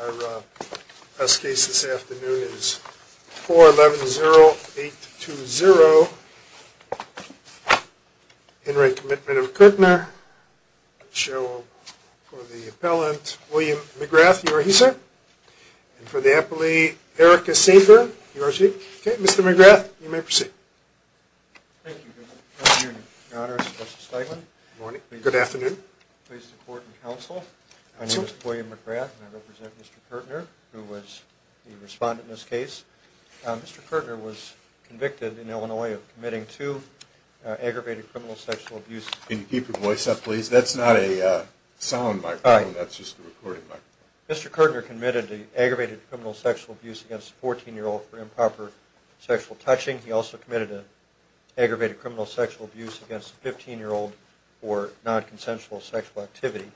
Our press case this afternoon is 4-11-0-8-2-0. In re. Commitment of Curtner. Let's show for the appellant, William McGrath, you are he, sir? And for the appellee, Erica Sanger, you are she? Okay. Mr. McGrath, you may proceed. Thank you. Good afternoon, Your Honor. It's a pleasure to be here. Good morning. Good afternoon. Please support and counsel. My name is William McGrath, and I represent Mr. Curtner, who was the respondent in this case. Mr. Curtner was convicted in Illinois of committing two aggravated criminal sexual abuses. Can you keep your voice up, please? That's not a sound microphone. That's just a recording microphone. Mr. Curtner committed an aggravated criminal sexual abuse against a 14-year-old for improper sexual touching. He also committed an aggravated criminal sexual abuse against a 15-year-old for nonconsensual sexual activity.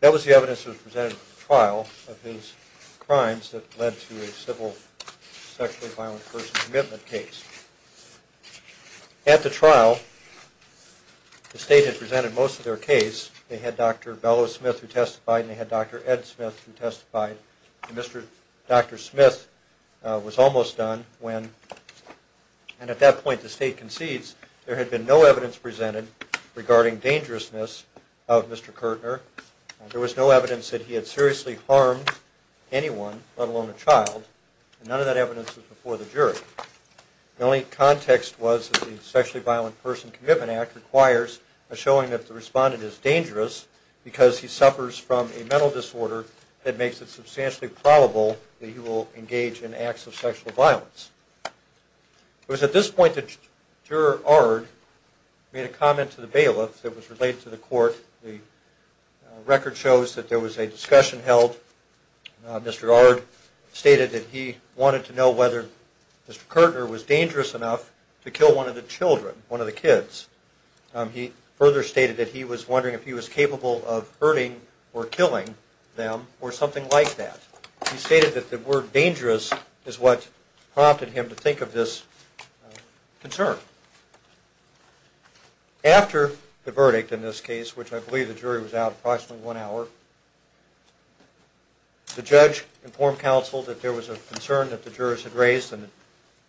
That was the evidence that was presented at the trial of his crimes that led to a civil sexually violent person's commitment case. At the trial, the State had presented most of their case. They had Dr. Bellows Smith, who testified, and they had Dr. Ed Smith, who testified. Dr. Smith was almost done when, and at that point the State concedes, there had been no evidence of the dangerousness of Mr. Curtner. There was no evidence that he had seriously harmed anyone, let alone a child, and none of that evidence was before the jury. The only context was that the Sexually Violent Person Commitment Act requires a showing that the respondent is dangerous because he suffers from a mental disorder that makes it substantially probable that he will engage in acts of sexual violence. It was at this point that Juror Ard made a comment to the bailiff that was related to the court. The record shows that there was a discussion held. Mr. Ard stated that he wanted to know whether Mr. Curtner was dangerous enough to kill one of the children, one of the kids. He further stated that he was wondering if he was capable of hurting or killing them or something like that. He stated that the word dangerous is what prompted him to think of this concern. After the verdict in this case, which I believe the jury was out approximately one hour, the judge informed counsel that there was a concern that the jurors had raised and the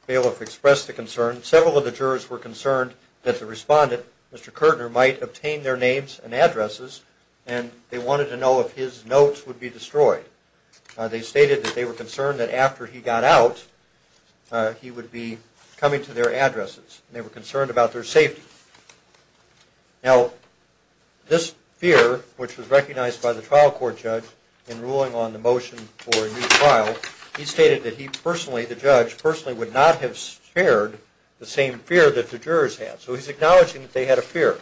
bailiff expressed the concern. Several of the jurors were concerned that the respondent, Mr. Curtner, might obtain their names and addresses and they wanted to know if his notes would be destroyed. They stated that they were concerned that after he got out, he would be coming to their addresses. They were concerned about their safety. Now, this fear, which was recognized by the trial court judge in ruling on the motion for a new trial, he stated that he personally, the judge personally, would not have shared the same fear that the jurors had. So he's acknowledging that they had a fear.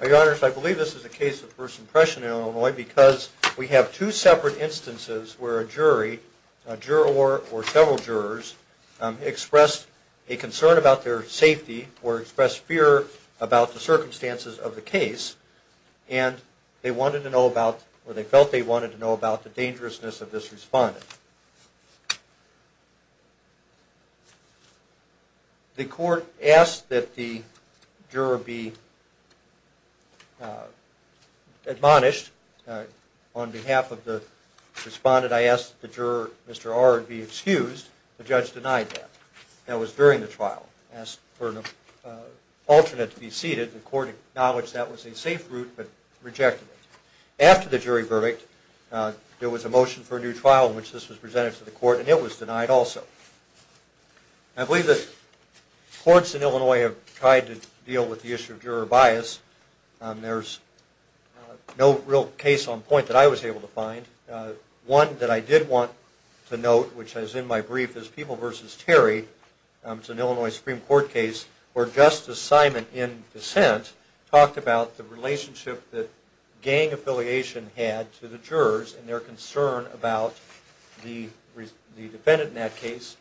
Now, your honors, I believe this is a case of first impression in Illinois because we have two separate instances where a jury, a juror or several jurors, expressed a concern about their safety or expressed fear about the circumstances of the case and they wanted to know about or they felt they wanted to know about the dangerousness of this respondent. The court asked that the juror be admonished. On behalf of the respondent, I asked that the juror, Mr. R, be excused. The judge denied that. That was during the trial. Asked for an alternate to be seated. The court acknowledged that was a safe route but rejected it. After the jury verdict, there was a motion for a new trial in which this was presented to the court and it was denied also. I believe that courts in Illinois have tried to deal with the issue of juror bias. There's no real case on point that I was able to find. One that I did want to note, which is in my brief, is People v. Terry. It's an Illinois Supreme Court case where Justice Simon in dissent talked about the affiliation had to the jurors and their concern about the defendant in that case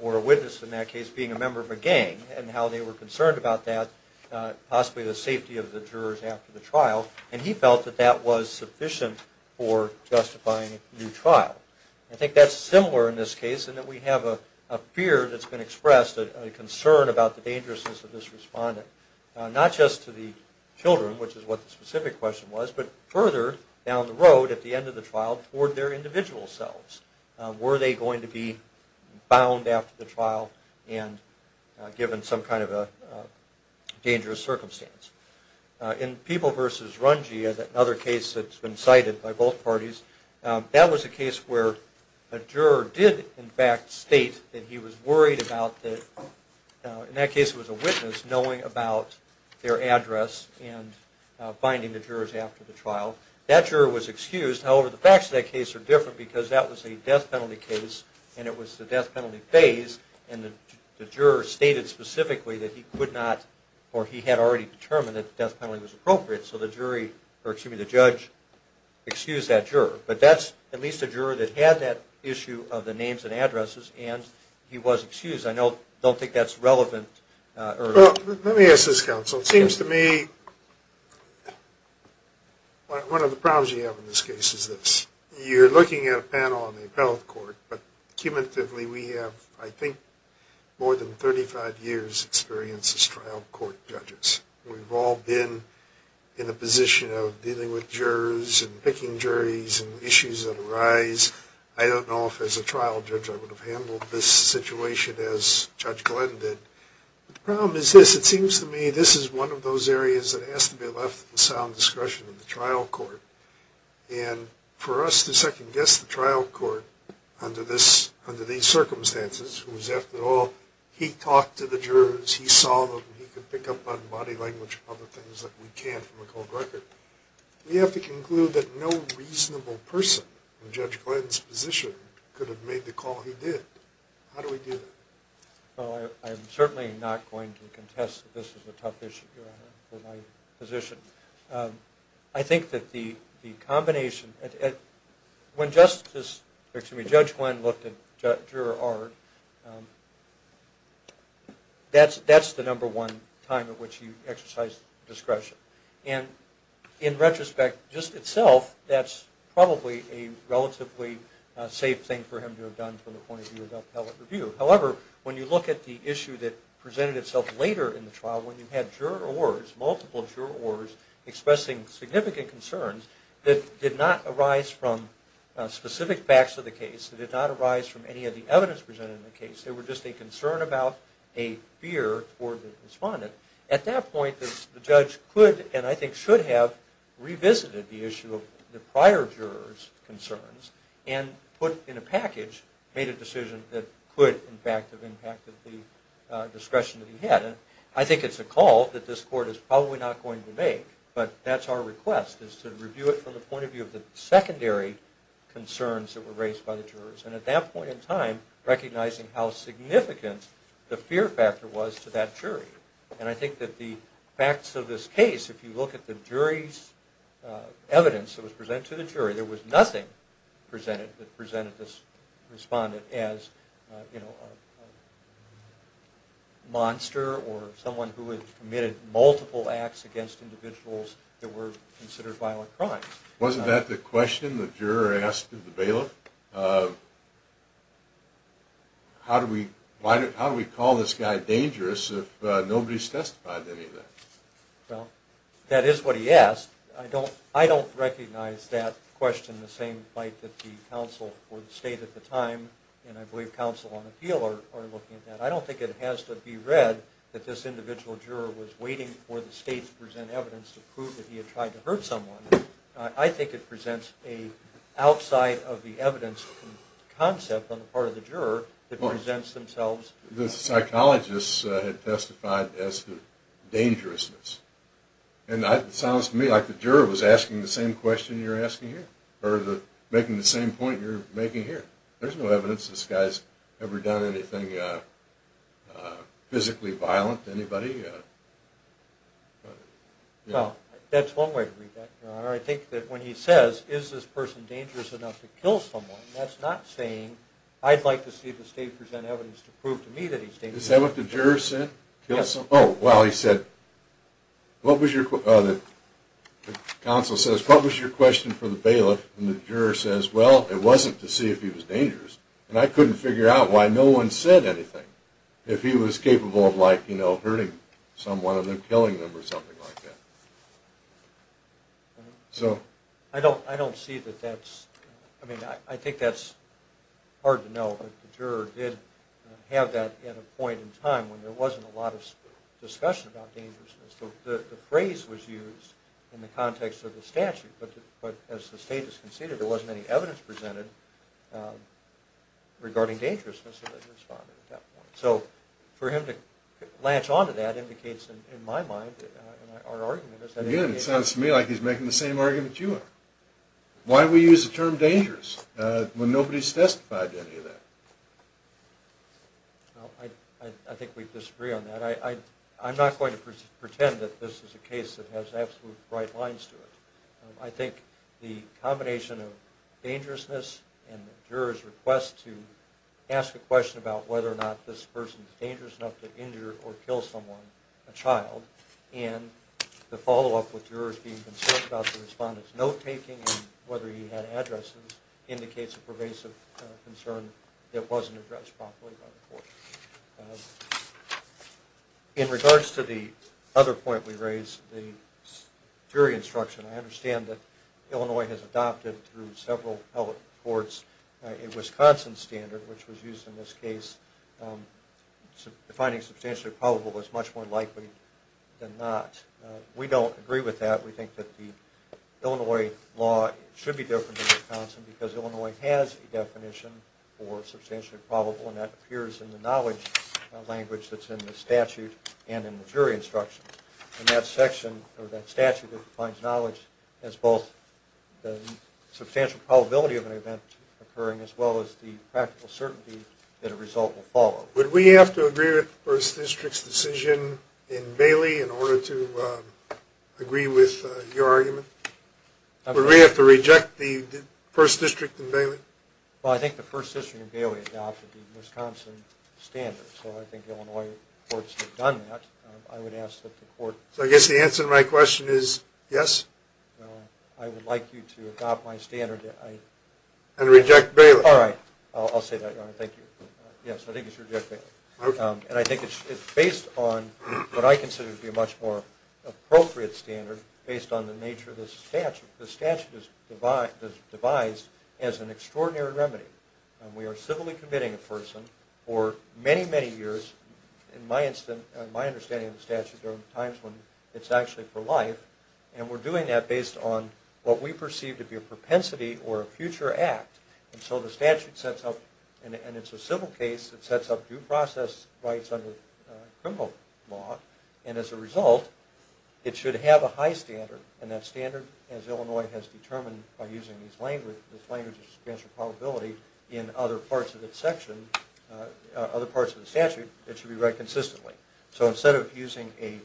or a witness in that case being a member of a gang and how they were concerned about that, possibly the safety of the jurors after the trial, and he felt that that was sufficient for justifying a new trial. I think that's similar in this case in that we have a fear that's been expressed, a concern about the dangerousness of this respondent, not just to the children, which is what the jurors further down the road at the end of the trial toward their individual selves. Were they going to be bound after the trial and given some kind of a dangerous circumstance? In People v. Runge, another case that's been cited by both parties, that was a case where a juror did in fact state that he was worried about the, in that case it was a witness, knowing about their address and finding the jurors after the trial. That juror was excused. However, the facts of that case are different because that was a death penalty case and it was the death penalty phase and the juror stated specifically that he could not or he had already determined that the death penalty was appropriate, so the judge excused that juror. But that's at least a juror that had that issue of the names and addresses and he was excused. I don't think that's relevant. Well, let me ask this, counsel. It seems to me one of the problems you have in this case is this. You're looking at a panel on the appellate court, but cumulatively we have, I think, more than 35 years' experience as trial court judges. We've all been in a position of dealing with jurors and picking juries and issues that arise. I don't know if as a trial judge I would have handled this situation as Judge Glenn did. The problem is this. It seems to me this is one of those areas that has to be left to the sound discretion of the trial court. And for us to second-guess the trial court under these circumstances, whose after all he talked to the jurors, he saw them, he could pick up on body language and other things that we can't from a cold record. We have to conclude that no reasonable person in Judge Glenn's position could have made the call he did. How do we do that? Well, I'm certainly not going to contest that this is a tough issue for my position. I think that the combination, when Judge Glenn looked at juror Art, that's the number one time at which he exercised discretion. And in retrospect, just itself, that's probably a relatively safe thing for him to have done from the point of view of the appellate review. However, when you look at the issue that presented itself later in the trial, when you had jurors, multiple jurors, expressing significant concerns that did not arise from specific facts of the case, that did not arise from any of the evidence presented in the case, they were just a concern about a fear for the respondent. At that point, the judge could and I think should have revisited the issue of the prior juror's concerns and put in a package, made a decision that could in fact have impacted the discretion that he had. And I think it's a call that this court is probably not going to make, but that's our request, is to review it from the point of view of the secondary concerns that were raised by the jurors. And at that point in time, recognizing how significant the fear factor was to that jury. And I think that the facts of this case, if you look at the jury's evidence that was presented to the jury, there was nothing presented that presented this respondent as a monster or someone who had committed multiple acts against individuals that were considered violent crimes. Wasn't that the question the juror asked in the bailiff? How do we call this guy dangerous if nobody's testified to any of that? Well, that is what he asked. I don't recognize that question in the same light that the counsel for the state at the time, and I believe counsel on appeal are looking at that. I don't think it has to be read that this individual juror was waiting for the state to present evidence to prove that he had tried to hurt someone. I think it presents an outside-of-the-evidence concept on the part of the juror that presents themselves. The psychologists had testified as to dangerousness, and it sounds to me like the juror was asking the same question you're asking here, or making the same point you're making here. There's no evidence this guy's ever done anything physically violent to anybody. Well, that's one way to read that, Your Honor. I think that when he says, is this person dangerous enough to kill someone, that's not saying, I'd like to see the state present evidence to prove to me that he's dangerous enough. Is that what the juror said? Yes. Oh, well, he said, the counsel says, what was your question for the bailiff? And the juror says, well, it wasn't to see if he was dangerous, and I couldn't figure out why no one said anything, if he was capable of hurting someone or killing them or something like that. I don't see that that's... I mean, I think that's hard to know, but the juror did have that at a point in time when there wasn't a lot of discussion about dangerousness. The phrase was used in the context of the statute, but as the state has conceded, there So, for him to latch onto that indicates, in my mind, our argument is that... Again, it sounds to me like he's making the same argument you are. Why do we use the term dangerous when nobody's testified to any of that? I think we disagree on that. I'm not going to pretend that this is a case that has absolute bright lines to it. I think the combination of dangerousness and the juror's request to ask a question about whether or not this person is dangerous enough to injure or kill someone, a child, and the follow-up with jurors being concerned about the respondent's note-taking and whether he had addresses indicates a pervasive concern that wasn't addressed properly by the court. In regards to the other point we raised, the jury instruction, I understand that Illinois has adopted through several public courts a Wisconsin standard, which was used in this case. Defining substantially probable is much more likely than not. We don't agree with that. We think that the Illinois law should be different than Wisconsin because Illinois has a definition for substantially probable, and that appears in the knowledge language that's in the statute and in the jury instruction. That statute defines knowledge as both the substantial probability of an event occurring as well as the practical certainty that a result will follow. Would we have to agree with the First District's decision in Bailey in order to agree with your argument? Would we have to reject the First District in Bailey? Well, I think the First District in Bailey adopted the Wisconsin standard, so I think Illinois courts have done that. I would ask that the court... So I guess the answer to my question is yes? I would like you to adopt my standard. And reject Bailey? All right. I'll say that, Your Honor. Thank you. Yes, I think you should reject Bailey. Okay. And I think it's based on what I consider to be a much more appropriate standard, based on the nature of the statute. The statute is devised as an extraordinary remedy. We are civilly committing a person for many, many years. In my understanding of the statute, there are times when it's actually for life, and we're doing that based on what we perceive to be a propensity or a future act. And so the statute sets up... And it's a civil case that sets up due process rights under criminal law, and as a result, it should have a high standard, and that standard, as Illinois has determined by using this language of substantial probability, in other parts of its section, other parts of the statute, it should be read consistently. So instead of using a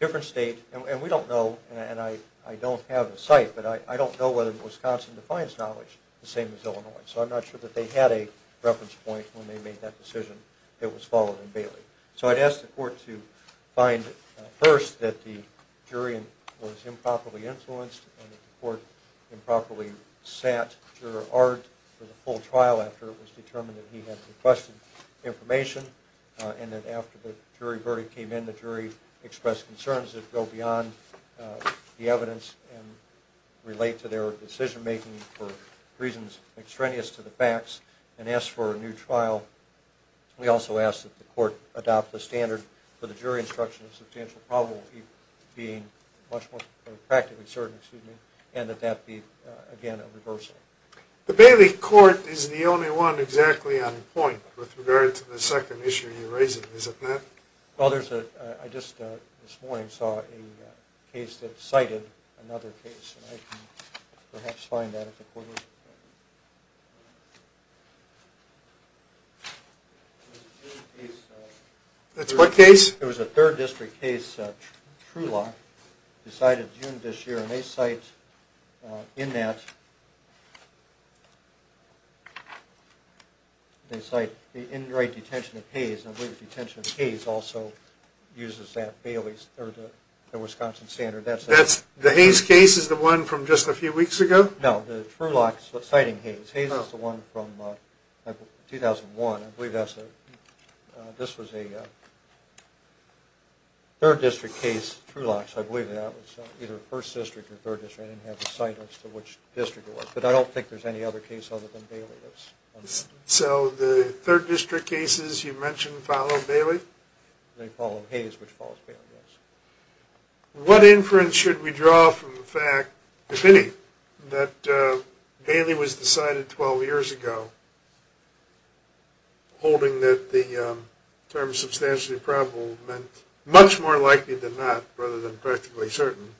different state... And we don't know, and I don't have the site, but I don't know whether Wisconsin defines knowledge the same as Illinois, so I'm not sure that they had a reference point when they made that decision that was followed in Bailey. So I'd ask the court to find first that the jury was improperly influenced and that the court improperly sat Juror Art for the full trial after it was determined that he had requested information, and that after the jury verdict came in, the jury expressed concerns that go beyond the evidence and relate to their decision-making for reasons extraneous to the facts, and ask for a new trial. We also ask that the court adopt the standard for the jury instruction of substantial probability being much more practically certain, excuse me, and that that be, again, a reversal. The Bailey court is the only one exactly on point with regard to the second issue you raised. Is it not? Well, there's a... I just this morning saw a case that cited another case, and I can perhaps find that if the court... That's what case? It was a third district case, Truelock, decided June this year, and they cite in that, they cite the in-right detention of Hayes, and I believe the detention of Hayes also uses that Bailey's, or the Wisconsin standard. The Hayes case is the one from just a few weeks ago? No, the Truelock's citing Hayes. Hayes is the one from 2001. I believe that's a... This was a third district case, Truelock's. I believe that was either first district or third district. I didn't have the site list of which district it was, but I don't think there's any other case other than Bailey's. So the third district cases you mentioned follow Bailey? They follow Hayes, which follows Bailey, yes. What inference should we draw from the fact, if any, that Bailey was decided 12 years ago, holding that the term substantially probable meant much more likely than not, rather than practically certain,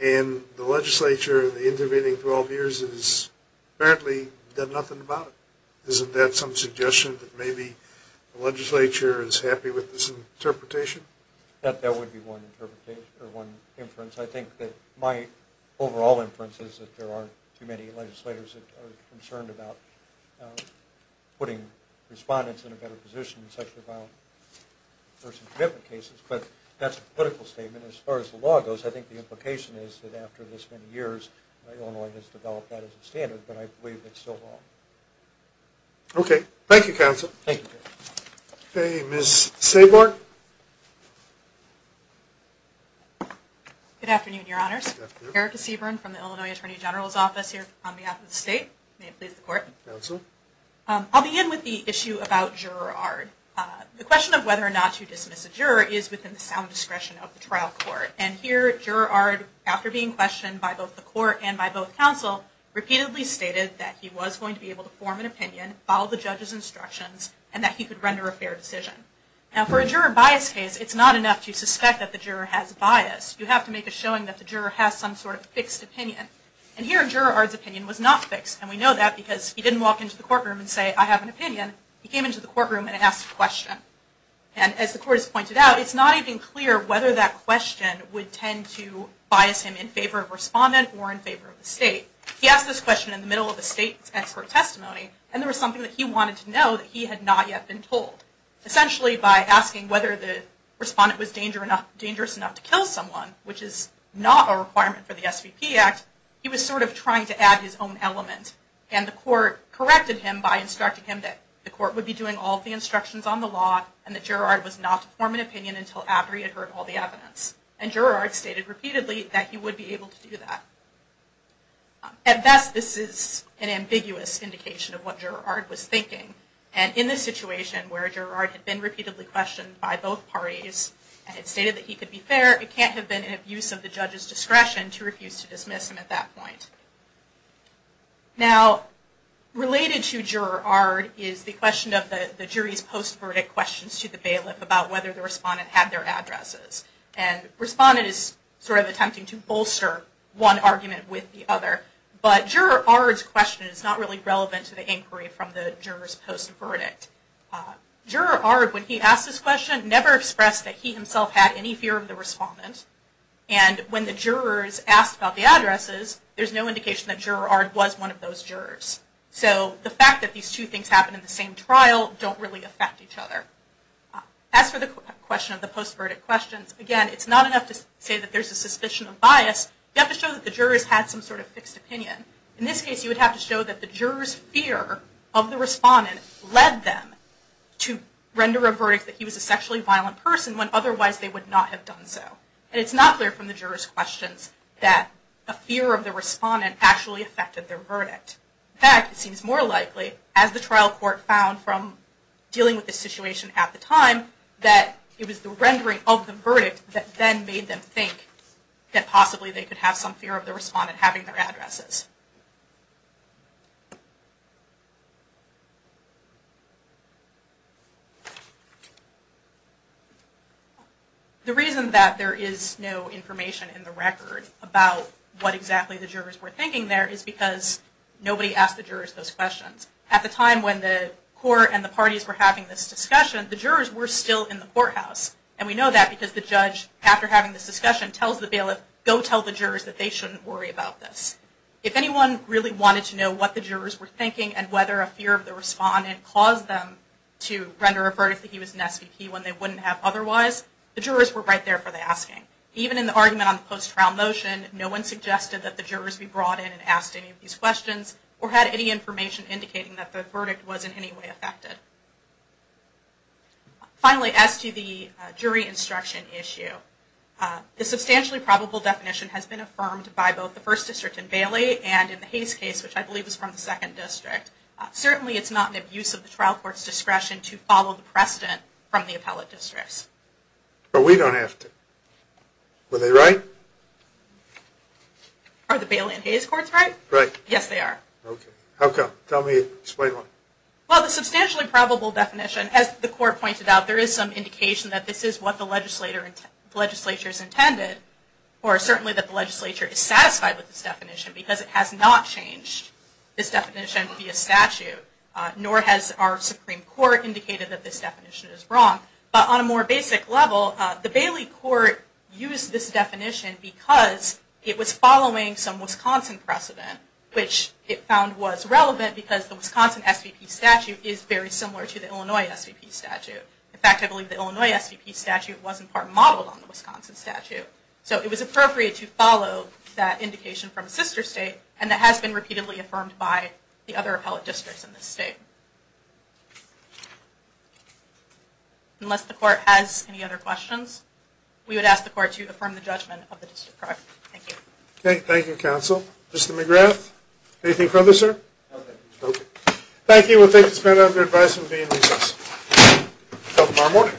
and the legislature in the intervening 12 years has apparently done nothing about it? Isn't that some suggestion that maybe the legislature is happy with this interpretation? That would be one interpretation, or one inference. I think that my overall inference is that there aren't too many legislators that are concerned about putting respondents in a better position in sexually violent person commitment cases. But that's a political statement. As far as the law goes, I think the implication is that after this many years, Illinois has developed that as a standard, but I believe it's still wrong. Okay. Thank you, counsel. Thank you. Ms. Seaborn? Good afternoon, Your Honors. Erica Seaborn from the Illinois Attorney General's Office here on behalf of the state. May it please the Court. Counsel. I'll begin with the issue about juror ARD. The question of whether or not to dismiss a juror is within the sound discretion of the trial court. And here, juror ARD, after being questioned by both the Court and by both counsel, repeatedly stated that he was going to be able to form an opinion, follow the judge's instructions, and that he could render a fair decision. Now, for a juror bias case, it's not enough to suspect that the juror has bias. You have to make a showing that the juror has some sort of fixed opinion. And here, juror ARD's opinion was not fixed. And we know that because he didn't walk into the courtroom and say, I have an opinion. He came into the courtroom and asked a question. And as the Court has pointed out, it's not even clear whether that question would tend to bias him in favor of respondent or in favor of the state. He asked this question in the middle of the state's expert testimony, and there was something that he wanted to know that he had not yet been told. Essentially, by asking whether the respondent was dangerous enough to kill someone, which is not a requirement for the SVP Act, he was sort of trying to add his own element. And the Court corrected him by instructing him that the Court would be doing all of the instructions on the law, and that juror ARD was not to form an opinion until after he had heard all the evidence. And juror ARD stated repeatedly that he would be able to do that. At best, this is an ambiguous indication of what juror ARD was thinking. And in this situation where juror ARD had been repeatedly questioned by both parties and had stated that he could be fair, it can't have been an abuse of the judge's discretion to refuse to dismiss him at that point. Now, related to juror ARD is the question of the jury's post-verdict questions to the bailiff about whether the respondent had their addresses. And respondent is sort of attempting to bolster one argument with the other. But juror ARD's question is not really relevant to the inquiry from the juror's post-verdict. Juror ARD, when he asked this question, never expressed that he himself had any fear of the respondent. And when the jurors asked about the addresses, there's no indication that juror ARD was one of those jurors. So the fact that these two things happened in the same trial don't really affect each other. As for the question of the post-verdict questions, again, it's not enough to say that there's a suspicion of bias. You have to show that the jurors had some sort of fixed opinion. In this case, you would have to show that the jurors' fear of the respondent led them to render a verdict that he was a sexually violent person when otherwise they would not have done so. And it's not clear from the jurors' questions that a fear of the respondent actually affected their verdict. In fact, it seems more likely, as the trial court found from dealing with this situation at the time, that it was the rendering of the verdict that then made them think that possibly they could have some fear of the respondent having their addresses. The reason that there is no information in the record about what exactly the jurors were thinking there is because nobody asked the jurors those questions. At the time when the court and the parties were having this discussion, the jurors were still in the courthouse. And we know that because the judge, after having this discussion, tells the bailiff, go tell the jurors that they shouldn't worry about this. If anyone really wanted to know what the jurors were thinking and whether a fear of the respondent caused them to render a verdict that he was an SVP when they wouldn't have otherwise, the jurors were right there for the asking. Even in the argument on the post-trial motion, no one suggested that the jurors be brought in and asked any of these questions or had any information indicating that the verdict was in any way affected. Finally, as to the jury instruction issue, the substantially probable definition has been affirmed by both the First District in Bailey and in the Hayes case, which I believe is from the Second District. Certainly it's not an abuse of the trial court's discretion to follow the precedent from the appellate districts. But we don't have to. Are they right? Are the Bailey and Hayes courts right? Yes, they are. Okay. How come? Tell me. Explain why. Well, the substantially probable definition, as the court pointed out, there is some indication that this is what the legislature's intended, or certainly that the legislature is satisfied with this definition because it has not changed this definition via statute, nor has our Supreme Court indicated that this definition is wrong. But on a more basic level, the Bailey court used this definition because it was following some Wisconsin precedent, which it found was relevant because the Wisconsin SVP statute is very similar to the Illinois SVP statute. In fact, I believe the Illinois SVP statute was in part modeled on the Wisconsin statute. So it was appropriate to follow that indication from Sister State, and that has been repeatedly affirmed by the other appellate districts in this state. Unless the court has any other questions, we would ask the court to affirm the judgment of the District Court. Thank you. Okay. Thank you, Counsel. Mr. McGrath. Anything further, sir? Nothing. Okay. Thank you. We'll take a stand. I have your advice on being recessed. Counsel Farmore.